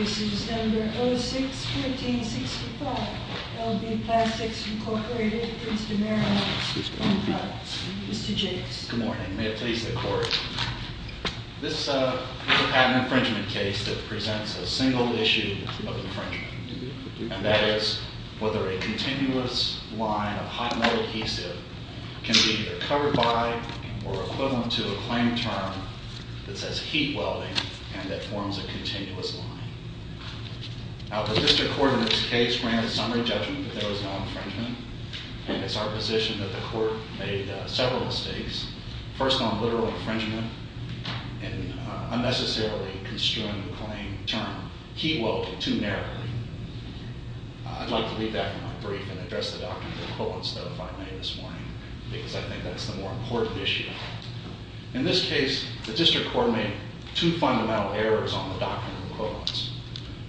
Excuse number 06-1365, LB Plastics Incorporated, Mr. Merrill, Mr. Jacobs. Good morning, may it please the court. This is a patent infringement case that presents a single issue of infringement. And that is whether a continuous line of hot melt adhesive can be either covered by or equivalent to a claim term that says heat welding and that forms a continuous line. Now the district court in this case ran a summary judgment that there was no infringement. And it's our position that the court made several mistakes. First on literal infringement and unnecessarily construing the claim term, heat welding too narrowly. I'd like to leave that for my brief and address the doctrinal equivalence that I made this morning, because I think that's the more important issue. In this case, the district court made two fundamental errors on the doctrinal equivalence.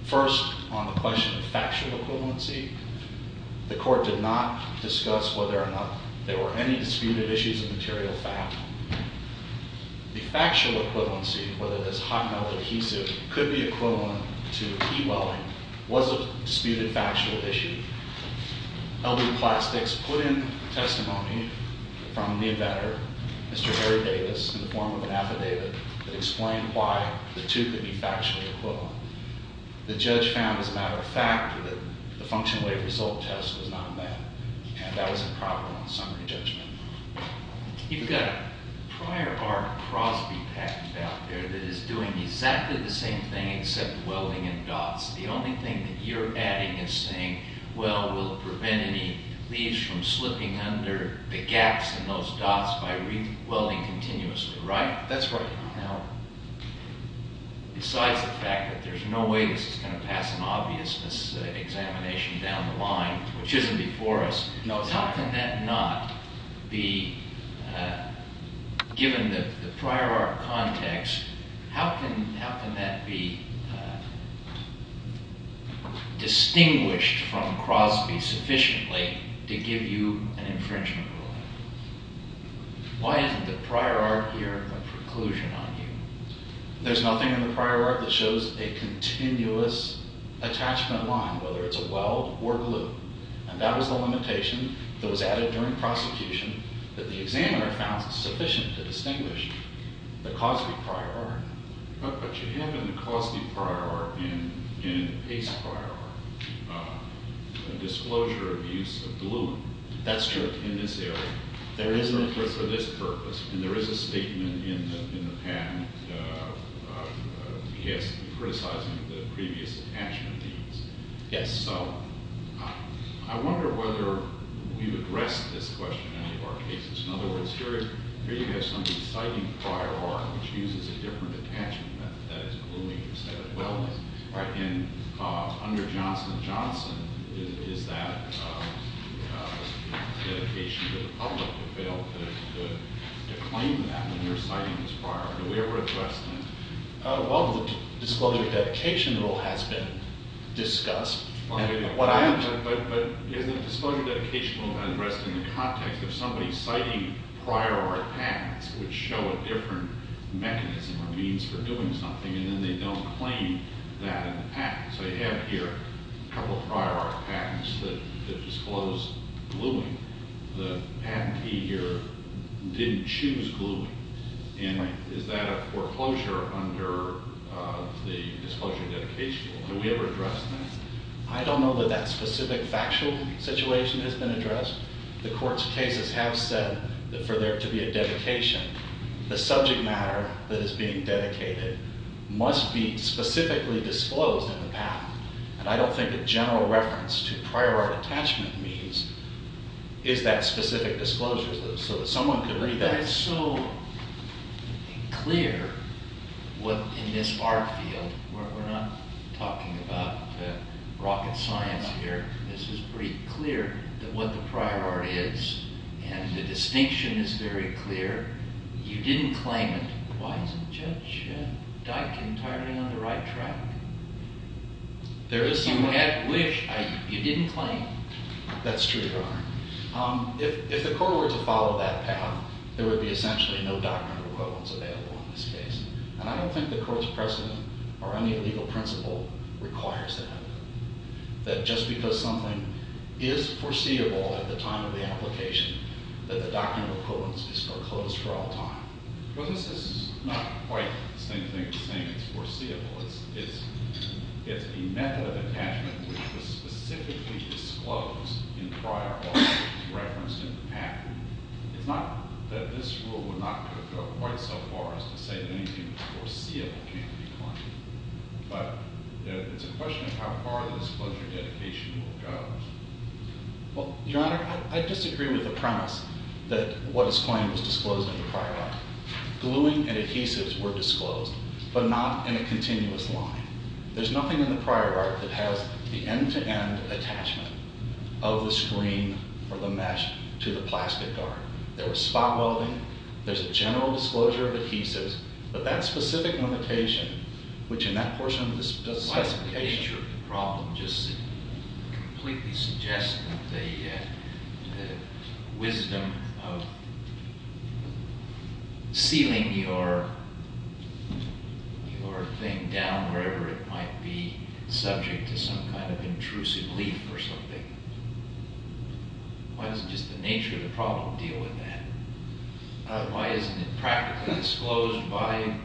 First, on the question of factual equivalency. The court did not discuss whether or not there were any disputed issues of material fact. The factual equivalency, whether this hot melt adhesive could be equivalent to heat welding, was a disputed factual issue. LB Plastics put in testimony from the inventor, Mr. Harry Davis, in the form of an affidavit that explained why the two could be factually equivalent. The judge found, as a matter of fact, that the function weight result test was not met. And that was improper on summary judgment. You've got a prior art Crosby package out there that is doing exactly the same thing except welding in dots. The only thing that you're adding is saying, well, we'll prevent any leaves from slipping under the gaps in those dots by re-welding continuously, right? That's right. Now, besides the fact that there's no way this is going to pass an obviousness examination down the line, which isn't before us. How can that not be, given the prior art context, how can that be distinguished from Crosby sufficiently to give you an infringement rule? Why isn't the prior art here a preclusion on you? There's nothing in the prior art that shows a continuous attachment line, whether it's a weld or glue. And that was the limitation that was added during prosecution that the examiner found sufficient to distinguish the Crosby prior art. But you have in the Crosby prior art and in the Pace prior art a disclosure of use of glue. That's true. In this area. There is a, for this purpose. And there is a statement in the, in the patent, yes, criticizing the previous attachment needs. Yes. So, I wonder whether we've addressed this question in any of our cases. In other words, here is, here you have somebody citing prior art, which uses a different attachment method, that is gluing instead of welding. Right? And under Johnson & Johnson, is, is that dedication to the public to fail to, to, to claim that when you're citing this prior art? Do we ever address that? Well, the disclosure dedication rule has been discussed. What I have to, but, but, is the disclosure dedication rule addressed in the context of somebody citing prior art patents, which show a different mechanism or means for doing something, and then they don't claim that in the patent. So you have here a couple of prior art patents that, that disclose gluing. The patentee here didn't choose gluing. And is that a foreclosure under the disclosure dedication rule? Do we ever address that? I don't know that that specific factual situation has been addressed. The court's cases have said that for there to be a dedication, the subject matter that is being dedicated must be specifically disclosed in the patent. And I don't think a general reference to prior art attachment means, is that specific disclosure, so that someone could read that. But it's so clear what in this art field, we're, we're not talking about rocket science here. This is pretty clear that what the prior art is, and the distinction is very clear, you didn't claim it. Why isn't Judge Dike entirely on the right track? There is some wish, you didn't claim it. That's true, Your Honor. If, if the court were to follow that path, there would be essentially no doctrinal equivalence available in this case. And I don't think the court's precedent or any legal principle requires that. That just because something is foreseeable at the time of the application, that the doctrinal equivalence is foreclosed for all time. Well, this is not quite the same thing as saying it's foreseeable. It's, it's, it's a method of attachment which was specifically disclosed in prior art, referenced in the patent. It's not that this rule would not go quite so far as to say that anything foreseeable can't be claimed. But it's a question of how far this disclosure dedication will go. Well, Your Honor, I, I disagree with the premise that what is claimed was disclosed in the prior art. Gluing and adhesives were disclosed, but not in a continuous line. There's nothing in the prior art that has the end to end attachment of the screen or the mesh to the plastic art. There was spot welding. There's a general disclosure of adhesives. But that specific limitation, which in that portion of the specification. My picture of the problem just completely suggests that the the wisdom of sealing your, your thing down wherever it might be is something, why doesn't just the nature of the problem deal with that? Why isn't it practically disclosed by,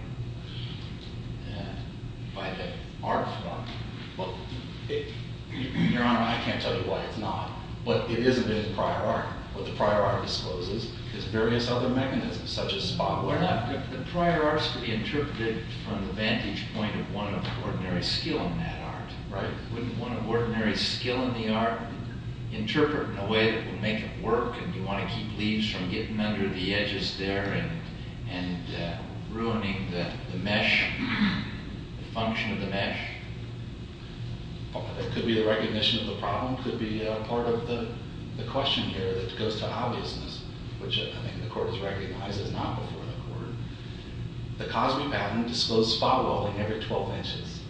by the art form? Well, it, Your Honor, I can't tell you why it's not. But it is a bit of prior art. What the prior art discloses is various other mechanisms, such as spot welding. The prior art's to be interpreted from the vantage point of one of ordinary skill in that art, right? Wouldn't one of ordinary skill in the art interpret in a way that would make it work? And you want to keep leaves from getting under the edges there and, and ruining the, the mesh, the function of the mesh. That could be the recognition of the problem, could be part of the, the question here that goes to obviousness, which I think the court has recognized is not before the court. The Cosby patent disclosed spot welding every 12 inches.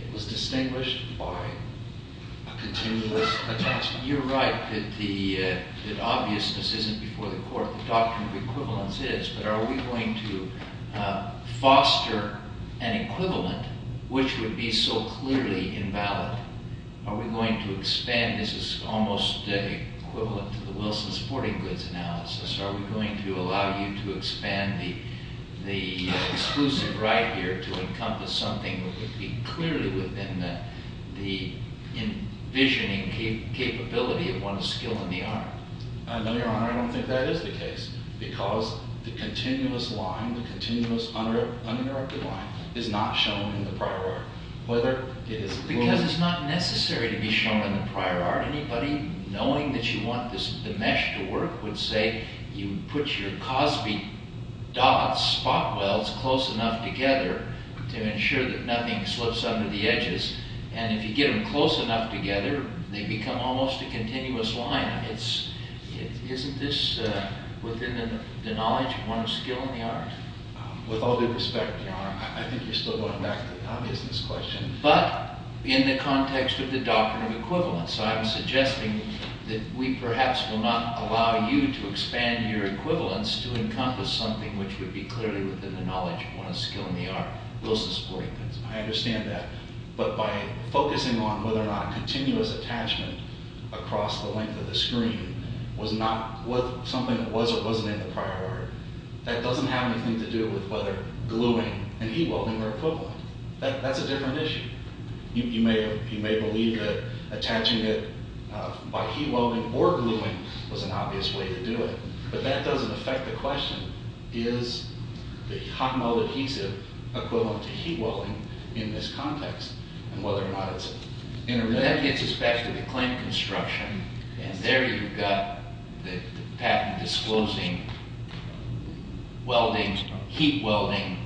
It was distinguished by a continuous attachment. You're right that the, that obviousness isn't before the court. The doctrine of equivalence is, but are we going to foster an equivalent which would be so clearly invalid? Are we going to expand, this is almost equivalent to the Wilson's sporting goods analysis. Are we going to allow you to expand the, the exclusive right here to encompass something that would be clearly within the, the envisioning capability of one's skill in the art? I know your honor, I don't think that is the case. Because the continuous line, the continuous uninterrupted line, is not shown in the prior art. Whether it is. Because it's not necessary to be shown in the prior art. Anybody knowing that you want this, the mesh to work would say, you put your Cosby dots, spot welds close enough together to ensure that nothing slips under the edges. And if you get them close enough together, they become almost a continuous line. It's, isn't this within the knowledge of one's skill in the art? With all due respect, your honor, I think you're still going back to the obviousness question. But, in the context of the doctrine of equivalence, I'm suggesting that we perhaps will not allow you to expand your equivalence to encompass something which would be clearly within the knowledge of one's skill in the art. Those are the supporting things. I understand that. But by focusing on whether or not continuous attachment across the length of the screen was not, was something that was or wasn't in the prior art, that doesn't have anything to do with whether gluing and heat welding are equivalent. That's a different issue. You may believe that attaching it by heat welding or gluing was an obvious way to do it. But that doesn't affect the question. Is the hot-mold adhesive equivalent to heat welding in this context? And whether or not it's interrelated. That gets us back to the claim construction. And there you've got the patent disclosing welding, heat welding,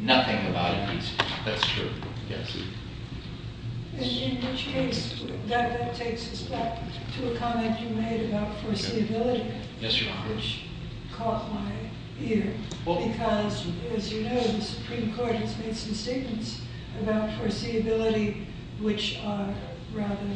nothing about adhesive. That's true. Yes. In which case, that takes us back to a comment you made about foreseeability. Yes, Your Honor. Which caught my ear. Because, as you know, the Supreme Court has made some statements about foreseeability which are rather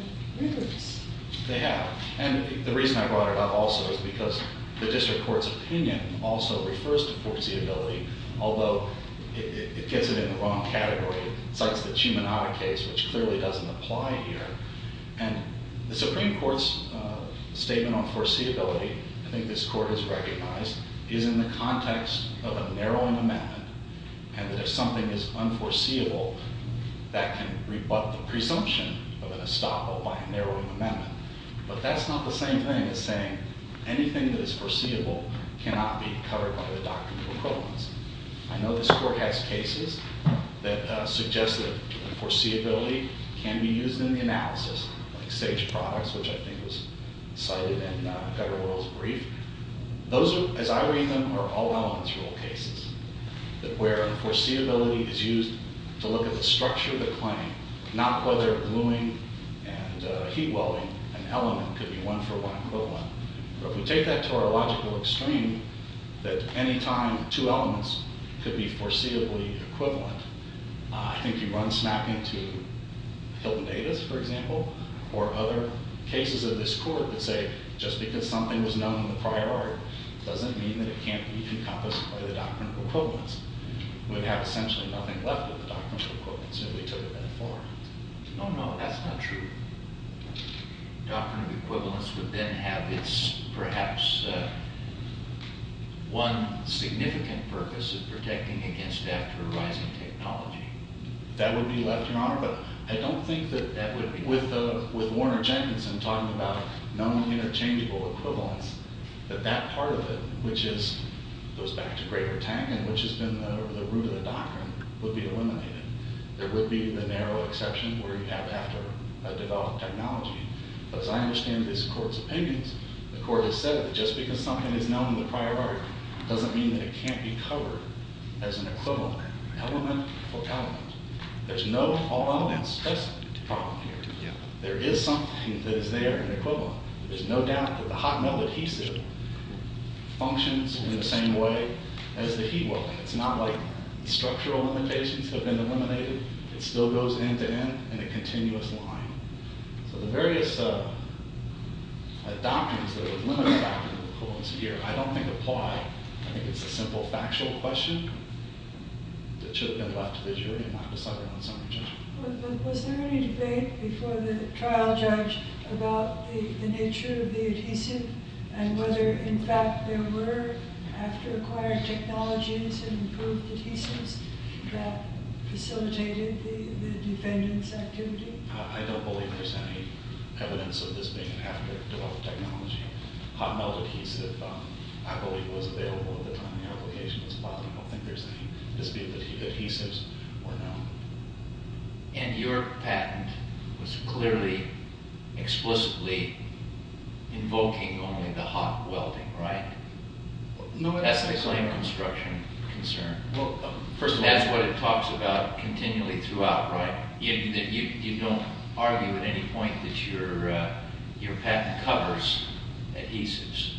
rigorous. They have. And the reason I brought it up also is because the District Court's opinion also refers to foreseeability, although it gets it in the wrong category. It cites the Chimanata case, which clearly doesn't apply here. And the Supreme Court's statement on foreseeability, I think this Court has recognized, is in the context of a narrowing amendment. And that if something is unforeseeable, that can rebut the presumption of an estoppel by a narrowing amendment. But that's not the same thing as saying anything that is foreseeable cannot be covered by the doctrine of equivalence. I know this Court has cases that suggest that foreseeability can be used in the analysis, like SAGE products, which I think was cited in Federal Rules Brief. Those, as I read them, are all-elements rule cases, where foreseeability is used to look at the structure of the claim, not whether gluing and heat welding an element could be one-for-one equivalent. But if we take that to our logical extreme, that any time two elements could be foreseeably equivalent, I think you run snapping to Hilton-Davis, for example, or other cases of this Court that say just because something was known in the prior art doesn't mean that it can't be encompassed by the doctrine of equivalence. We'd have essentially nothing left of the doctrine of equivalence if we took it metaphorically. No, no, that's not true. Doctrine of equivalence would then have its, perhaps, one significant purpose of protecting against after-rising technology. That would be left, Your Honor. But I don't think that with Warner-Championson talking about non-interchangeable equivalence, that that part of it, which goes back to greater Tang, and which has been the root of the doctrine, would be eliminated. There would be the narrow exception where you'd have to develop technology. But as I understand this Court's opinions, the Court has said that just because something is known in the prior art doesn't mean that it can't be covered as an equivalent element or element. There's no all-elements test problem here. There is something that is there in the equivalent. There's no doubt that the hot-melt adhesive functions in the same way as the heat-weld. It's not like structural limitations have been eliminated. It still goes end-to-end in a continuous line. So the various doctrines, the limited doctrines of equivalence here, I don't think apply. I think it's a simple factual question that should have been left to the jury and not decided on its own. Was there any debate before the trial, Judge, about the nature of the adhesive and whether, in fact, there were after-acquired technologies and improved adhesives that facilitated the defendant's activity? I don't believe there's any evidence of this being an after-developed technology. Hot-melt adhesive, I believe, was available at the time the application was filed. I don't think there's any dispute that adhesives were known. And your patent was clearly, explicitly invoking only the hot welding, right? That's the claim construction concern. First of all, that's what it talks about continually throughout, right? You don't argue at any point that your patent covers adhesives?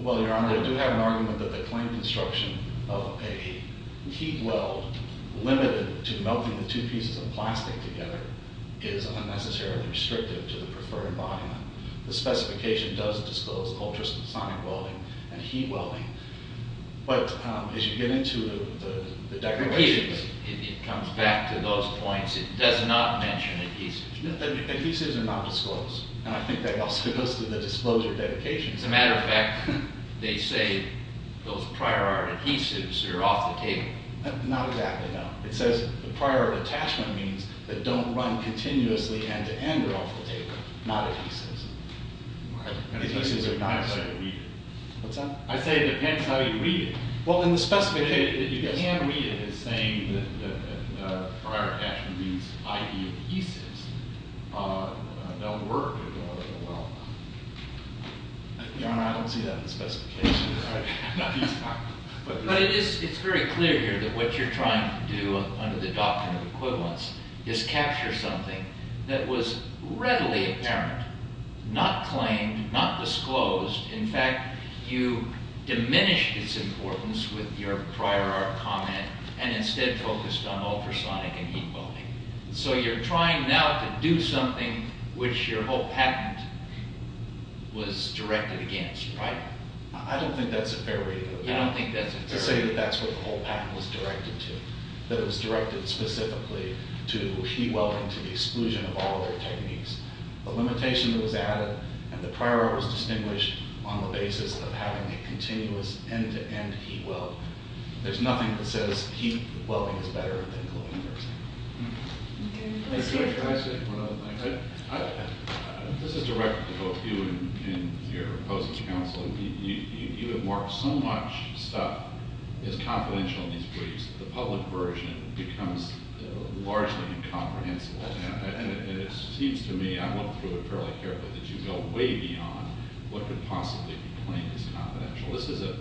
Well, Your Honor, I do have an argument that the claim construction of a heat weld limited to melting the two pieces of plastic together is unnecessarily restrictive to the preferred environment. The specification does disclose ultrasonic welding and heat welding. But as you get into the declarations... It comes back to those points. It does not mention adhesives. Adhesives are not disclosed, and I think that also goes to the disclosure dedications. As a matter of fact, they say those prior art adhesives are off the table. Not exactly, no. It says the prior art attachment means that don't run continuously end-to-end or off the table. Not adhesives. Adhesives are not... What's that? I say it depends how you read it. Well, in the specification, you can read it as saying that the prior attachment means i.e. adhesives don't work. Well, Your Honor, I don't see that in the specification. But it's very clear here that what you're trying to do under the doctrine of equivalence is capture something that was readily apparent, not claimed, not disclosed. In fact, you diminished its importance with your prior art comment and instead focused on ultrasonic and heat welding. So you're trying now to do something which your whole patent was directed against, right? I don't think that's a fair read of it. You don't think that's a fair read? I say that that's what the whole patent was directed to. That it was directed specifically to heat welding, to the exclusion of all other techniques. The limitation that was added and the prior art was distinguished on the basis of having a continuous end-to-end heat weld. There's nothing that says heat welding is better than gluing, for example. Can I say one other thing? This is direct to both you and your opposing counsel. You have marked so much stuff as confidential in these briefs, the public version becomes largely incomprehensible. And it seems to me, I went through it fairly carefully, that you go way beyond what could possibly be claimed as confidential. This is a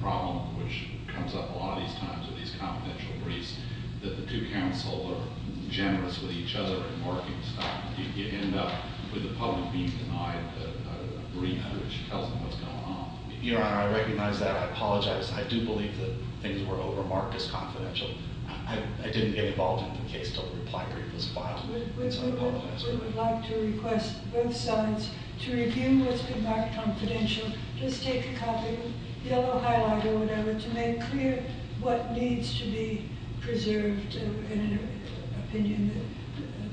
problem which comes up a lot of these times with these confidential briefs, that the two counsel are generous with each other in marking stuff. You end up with the public being denied a brief in which it tells them what's going on. Your Honor, I recognize that. I apologize. I do believe that things were over-marked as confidential. I didn't get involved in the case until the reply brief was filed. I apologize for that. We would like to request both sides to review what's been marked confidential. Just take a copy, yellow highlight or whatever, to make clear what needs to be preserved in an opinion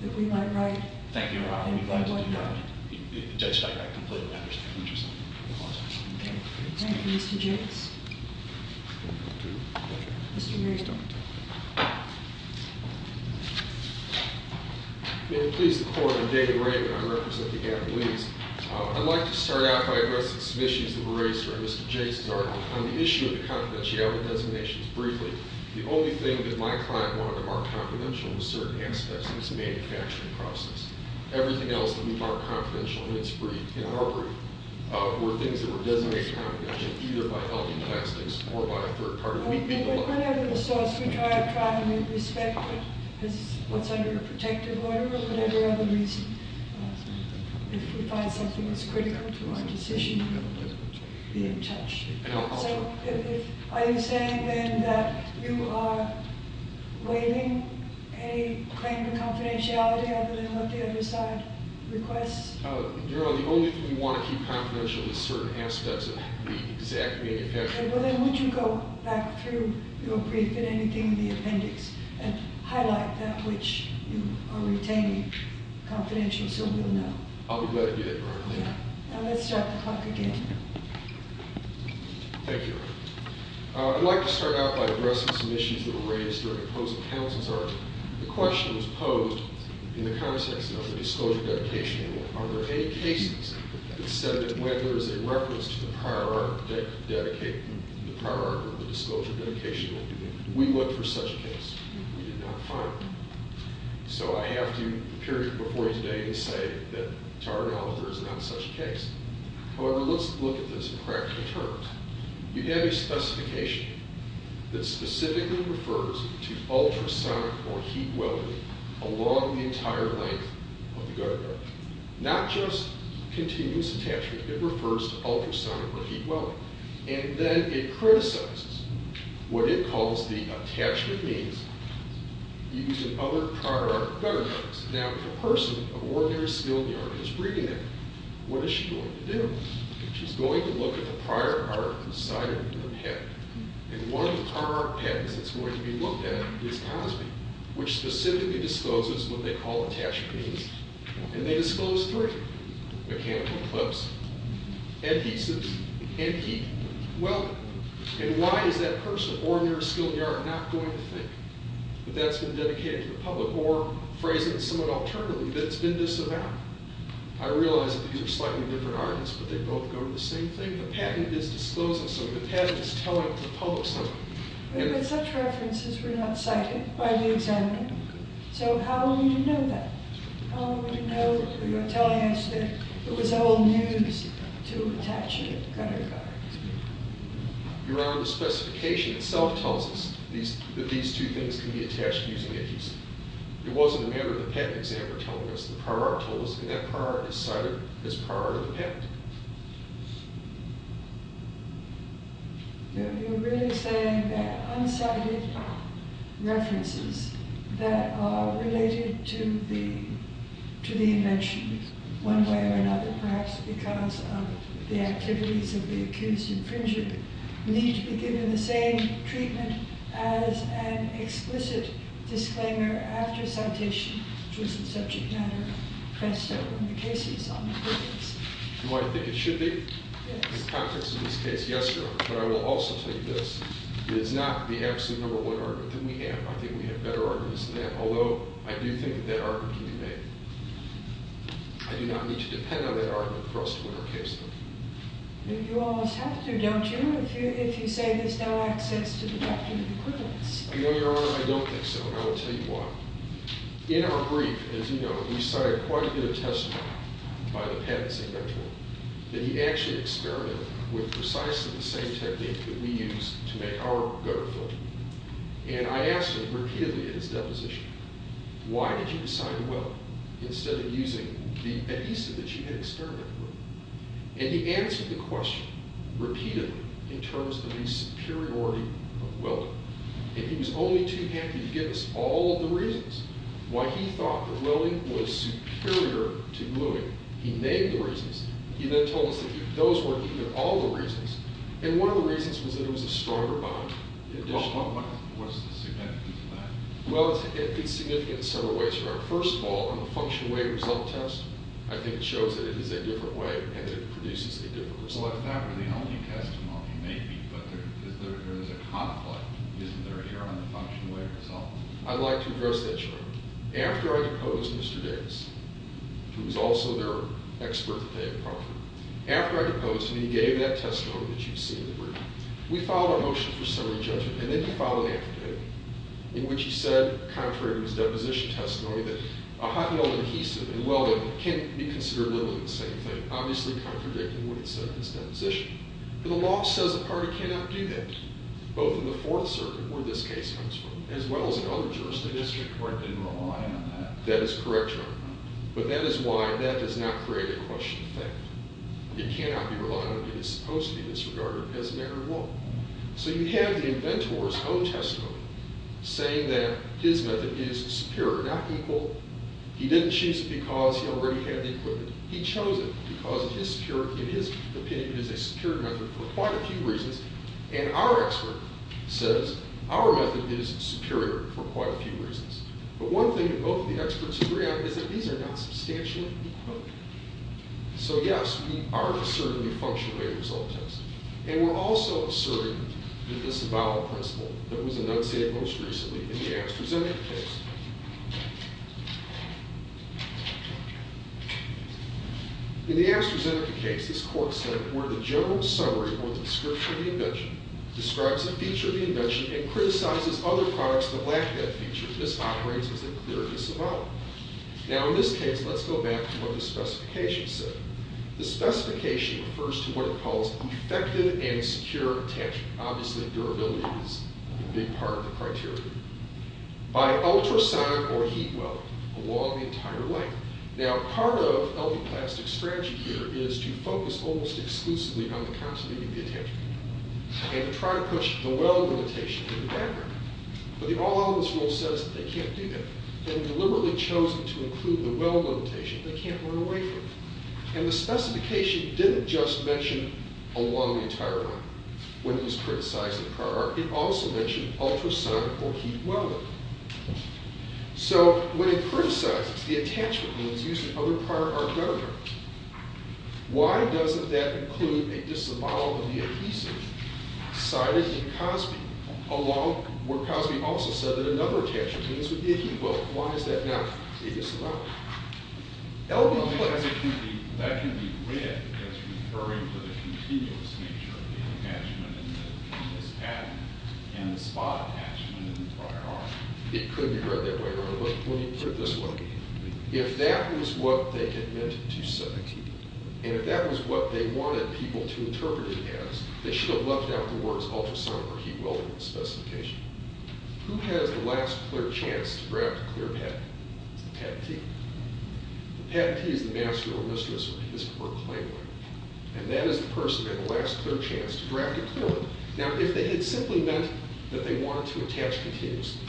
that we might write. Thank you, Your Honor. We'd like to do that. Judge, I completely understand. Thank you, Mr. Jacobs. Thank you. Mr. Marriott. May it please the Court, I'm David Ray. I represent the Attorneys. I'd like to start out by addressing some issues that were raised here in Mr. Jacobs' argument. On the issue of the confidentiality of the designations briefly, the only thing that my client wanted to mark confidential was certain aspects of its manufacturing process. Everything else that we marked confidential in our brief were things that were designated confidential, either by helping tax things or by a third party. Whatever the source, we try to try to respect what's under a protective order or whatever other reason. If we find something that's critical to our decision, we'll be in touch. So are you saying then that you are waiving a claim to confidentiality other than what the other side requests? Your Honor, the only thing we want to keep confidential is certain aspects of the exact manufacturing process. Okay. Well then, would you go back through your brief and anything in the appendix and highlight that which you are retaining confidential so we'll know? I'll be glad to do that, Your Honor. Okay. Now let's start the clock again. Thank you, Your Honor. I'd like to start out by addressing some issues that were raised during the closing counsel's argument. The question was posed in the context of the disclosure dedication rule. Are there any cases that said that when there is a reference to the prior article dedicated to the prior article of the disclosure dedication rule, we look for such a case? We did not find one. So I have to appear before you today and say that to our knowledge, there is not such a case. However, let's look at this in practical terms. You have a specification that specifically refers to ultrasonic or heat welding along the entire length of the gutter guard. Not just continuous attachment. It refers to ultrasonic or heat welding. And then it criticizes what it calls the attachment means using other prior article gutter guards. Now if a person of ordinary skilled yard is reading it, what is she going to do? She's going to look at the prior article inside of the PET. And one of our PETs that's going to be looked at is Cosby, which specifically discloses what they call attachment means. And they disclose three. Mechanical clips, adhesives, and heat welding. And why is that person of ordinary skilled yard not going to think that that's been dedicated to the public or phrasing it somewhat alternatively, that it's been disavowed? I realize that these are slightly different arguments, but they both go to the same thing. The patent is disclosing something. The patent is telling the public something. But such references were not cited by the examiner. So how will we know that? How will we know that you're telling us that it was old news to attach a gutter guard? Your Honor, the specification itself tells us that these two things can be attached using adhesive. It wasn't a member of the patent examiner telling us. The prior article was cited as prior to the patent. You're really saying that unsighted references that are related to the invention, one way or another, perhaps because of the activities of the accused infringer, need to be given the same treatment as an explicit disclaimer after citation, which was the subject matter pressed over in the cases on the previous. You want to think it should be? Yes. In the context of this case, yes, Your Honor. But I will also tell you this. It is not the absolute number one argument that we have. I think we have better arguments than that, although I do think that that argument can be made. I do not need to depend on that argument for us to win our case. You almost have to, don't you, if you say there's no access to deductive equivalence? No, Your Honor, I don't think so, and I will tell you why. In our brief, as you know, we cited quite a bit of testimony by the patent examiner that he actually experimented with precisely the same technique that we use to make our gutter float. And I asked him repeatedly in his deposition, why did you decide to weld instead of using the adhesive that you had experimented with? And he answered the question repeatedly in terms of the superiority of welding. And he was only too happy to give us all the reasons why he thought that welding was superior to gluing. He named the reasons. He then told us that those weren't even all the reasons. And one of the reasons was that it was a stronger bond. What's the significance of that? Well, it's significant in several ways, Your Honor. First of all, on the function-of-weight result test, I think it shows that it is a different way and that it produces a different result. Well, if that were the only testimony, maybe. But there is a conflict, isn't there, Your Honor, on the function-of-weight result? I'd like to address that, Your Honor. After I deposed Mr. Davis, who was also their expert at Fayette and Crawford, after I deposed him, he gave that testimony that you see in the brief. We filed a motion for summary judgment, and then we filed an affidavit in which he said, contrary to his deposition testimony, that a hot-melt adhesive in welding can't be considered limiting the same thing, obviously contradicting what he said in his deposition. But the law says a party cannot do that, both in the Fourth Circuit, where this case comes from, as well as in other jurisdictions. The district court didn't rely on that. That is correct, Your Honor. But that is why that does not create a question of fact. It cannot be relied on, and it is supposed to be disregarded as a matter of law. So you have the inventor's own testimony saying that his method is superior, not equal. He didn't choose it because he already had the equipment. He chose it because it is superior. In his opinion, it is a superior method for quite a few reasons. And our expert says our method is superior for quite a few reasons. But one thing that both of the experts agree on is that these are not substantially equal. So, yes, we are asserting the function-of-weight result test. And we're also asserting the disavowal principle that was enunciated most recently in the AstraZeneca case. In the AstraZeneca case, this court said, where the general summary or description of the invention describes a feature of the invention and criticizes other products that lack that feature, this operates as a clear disavowal. Now, in this case, let's go back to what the specification said. The specification refers to what it calls effective and secure attachment. Obviously, durability is a big part of the criteria. By ultrasonic or heat well along the entire length. Now, part of the plastic strategy here is to focus almost exclusively on the continuity of the attachment and try to push the well limitation in the background. But the all-outness rule says that they can't do that. They've deliberately chosen to include the well limitation. They can't run away from it. And the specification didn't just mention along the entire length when it was criticized in the prior art. It also mentioned ultrasonic or heat well length. So, when it criticizes the attachment when it's used in other prior art gunnery, why doesn't that include a disavowal of the adhesive cited in Cosby, where Cosby also said that another attachment Why is that not a disavowal? That can be read as referring to the continuous nature of the attachment in this pattern and the spot attachment in the prior art. It could be read that way, but let me put it this way. If that was what they had meant to say, and if that was what they wanted people to interpret it as, they should have left out the words ultrasonic or heat well in the specification. Who has the last clear chance to draft a clear pattern? It's the patentee. The patentee is the master or mistress or his or her claimant. And that is the person who has the last clear chance to draft a clear one. Now, if they had simply meant that they wanted to attach continuously,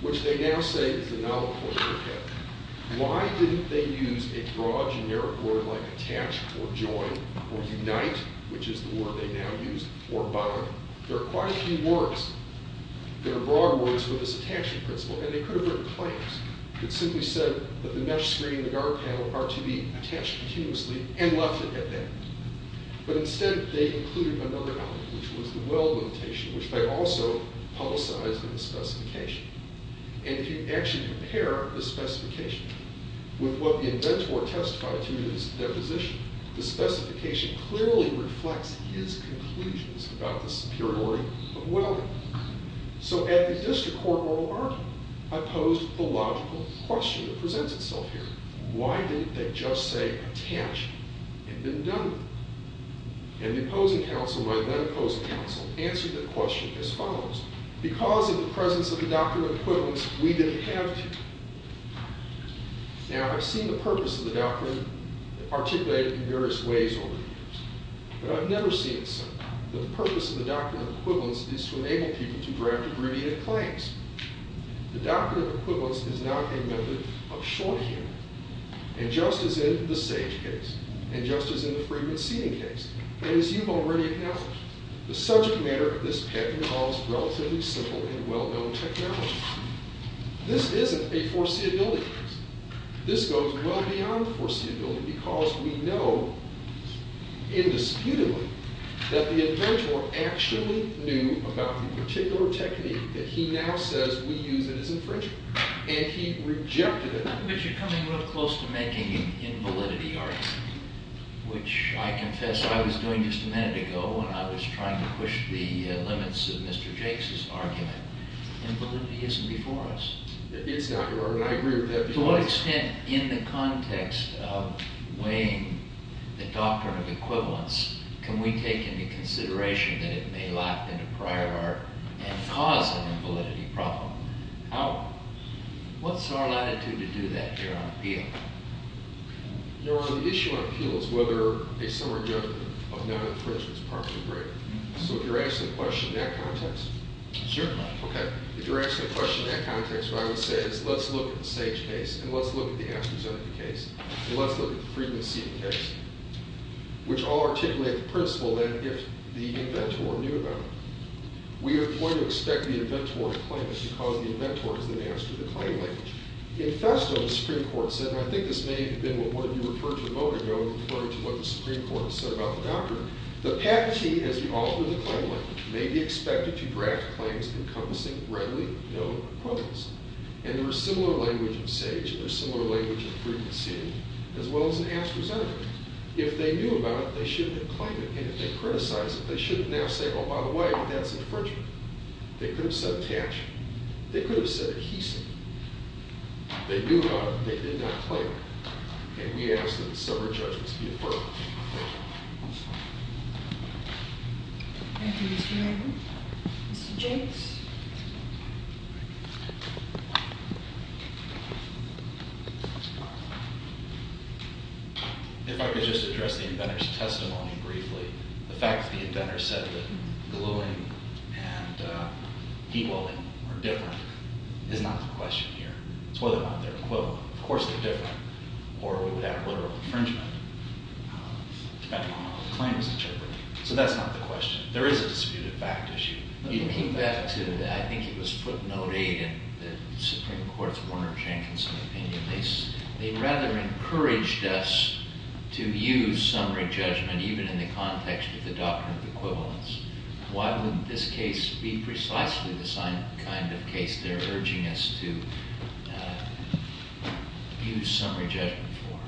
which they now say is the novel form of the pattern, why didn't they use a broad generic word like attach or join or unite, which is the word they now use, or bind? There are quite a few words that are broad words for this attachment principle, and they could have written claims that simply said that the mesh screen and the guard panel are to be attached continuously and left it at that. But instead they included another element, which was the well limitation, which they also publicized in the specification. And if you actually compare the specification with what the inventor testified to in his deposition, the specification clearly reflects his conclusions about the superiority of well. So at the district court oral argument, I posed the logical question that presents itself here. Why didn't they just say attach and then done with? And the opposing counsel, my then opposing counsel, answered the question as follows. Because in the presence of the doctrine of equivalence, we didn't have to. Now, I've seen the purpose of the doctrine articulated in various ways over the years, but I've never seen it so. The purpose of the doctrine of equivalence is to enable people to draft abbreviated claims. The doctrine of equivalence is not a method of short hearing. And just as in the sage case, and just as in the fragrant seeding case, and as you've already acknowledged, the subject matter of this patent involves relatively simple and well-known technology. This isn't a foreseeability case. This goes well beyond foreseeability because we know indisputably that the inventor actually knew about the particular technique that he now says we use as infringement. And he rejected it. But you're coming real close to making an invalidity argument, which I confess I was doing just a minute ago when I was trying to push the limits of Mr. Jakes' argument. Invalidity isn't before us. It's not, Your Honor, and I agree with that. To what extent, in the context of weighing the doctrine of equivalence, can we take into consideration that it may lap into prior art and cause an invalidity problem? How? What's our latitude to do that here on appeal? Your Honor, the issue on appeal is whether a summary judgment of non-infringement is properly breaked. So if you're asking the question in that context, what I would say is let's look at the Sage case and let's look at the Amsterdam case and let's look at the Freedman-Seaton case, which all articulate the principle that if the inventor knew about it, we are going to expect the inventor to claim it because the inventor is the master of the claim language. In Festo, the Supreme Court said, and I think this may have been what you referred to a moment ago in referring to what the Supreme Court said about the doctrine, the patentee, as the author of the claim language, may be expected to draft claims encompassing readily known quotas. And there is similar language in Sage and there is similar language in Freedman-Seaton as well as in Amsterdam. If they knew about it, they shouldn't have claimed it. And if they criticized it, they shouldn't now say, oh, by the way, that's infringement. They could have said patch. They could have said adhesive. They knew about it, but they did not claim it. And we ask that the summary judgment be affirmed. Thank you. Thank you, Mr. Hager. Mr. Jakes. If I could just address the inventor's testimony briefly. The fact that the inventor said that gluing and heat welding were different is not the question here. It's whether or not they're equivalent. Of course they're different. Or we would have a literal infringement depending on how the claim is interpreted. So that's not the question. There is a disputed fact issue. You came back to, I think it was footnote eight in the Supreme Court's Warner-Jankinson opinion. They rather encouraged us to use summary judgment, even in the context of the doctrine of equivalence. Why wouldn't this case be precisely the same kind of case? They're urging us to use summary judgment for.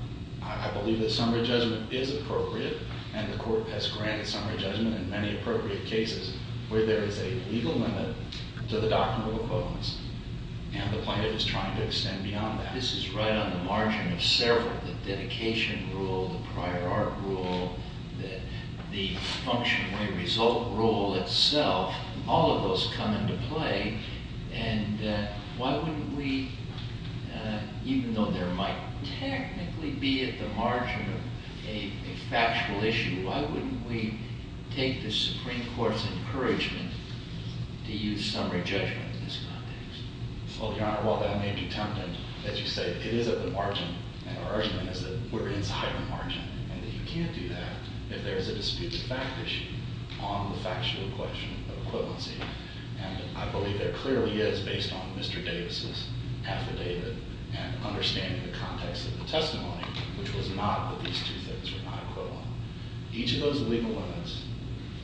I believe that summary judgment is appropriate, and the Court has granted summary judgment in many appropriate cases where there is a legal limit to the doctrine of equivalence. And the plaintiff is trying to extend beyond that. This is right on the margin of several. The dedication rule, the prior art rule, the function-way-result rule itself, all of those come into play. And why wouldn't we, even though there might technically be at the margin of a factual issue, why wouldn't we take the Supreme Court's encouragement to use summary judgment in this context? Well, Your Honor, while that may be tempting, as you say, it is at the margin. And our argument is that we're inside the margin, and that you can't do that if there is a dispute of fact issue on the factual question of equivalency. And I believe there clearly is, based on Mr. Davis's affidavit and understanding the context of the testimony, which was not that these two things were not equivalent. Each of those legal limits,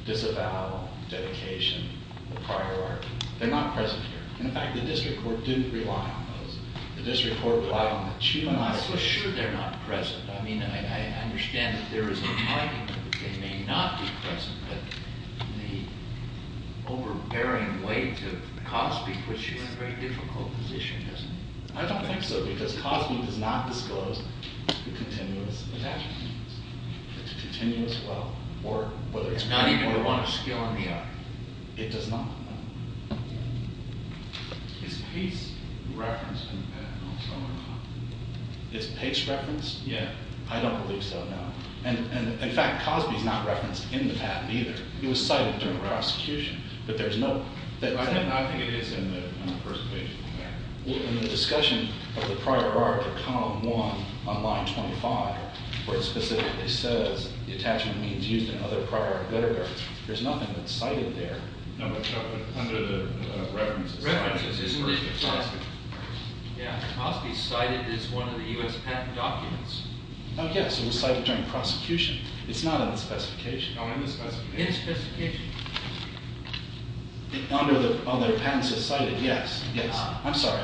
disavowal, dedication, the prior art, they're not present here. In fact, the district court didn't rely on those. The district court relied on the two. I'm not so sure they're not present. I mean, I understand that there is an argument that they may not be present. But the overbearing weight of Cosby puts you in a very difficult position, doesn't it? I don't think so, because Cosby does not disclose the continuous attachments. It's a continuous well, or whether it's not even one of skill in the art. It does not. Is Pace referenced in that? Is Pace referenced? Yeah. I don't believe so, no. And in fact, Cosby's not referenced in the patent, either. He was cited during the prosecution. But there's no. I think it is in the first page in there. In the discussion of the prior art, or column one on line 25, where it specifically says the attachment means used in other prior art literature, there's nothing that's cited there. No, but under the references. References isn't it? Yeah. Cosby's cited as one of the US patent documents. Oh, yes. It was cited during prosecution. It's not in the specification. Oh, in the specification. In the specification. Under the other patents it's cited. Yes. Yes. I'm sorry.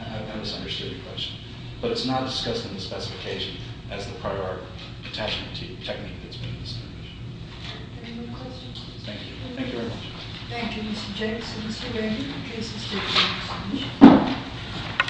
I misunderstood your question. But it's not discussed in the specification as the prior art attachment technique that's been established. Any more questions? Thank you. Thank you very much. Thank you, Mr. Jacobson. Thank you, Mr. Redding. In case you still have questions.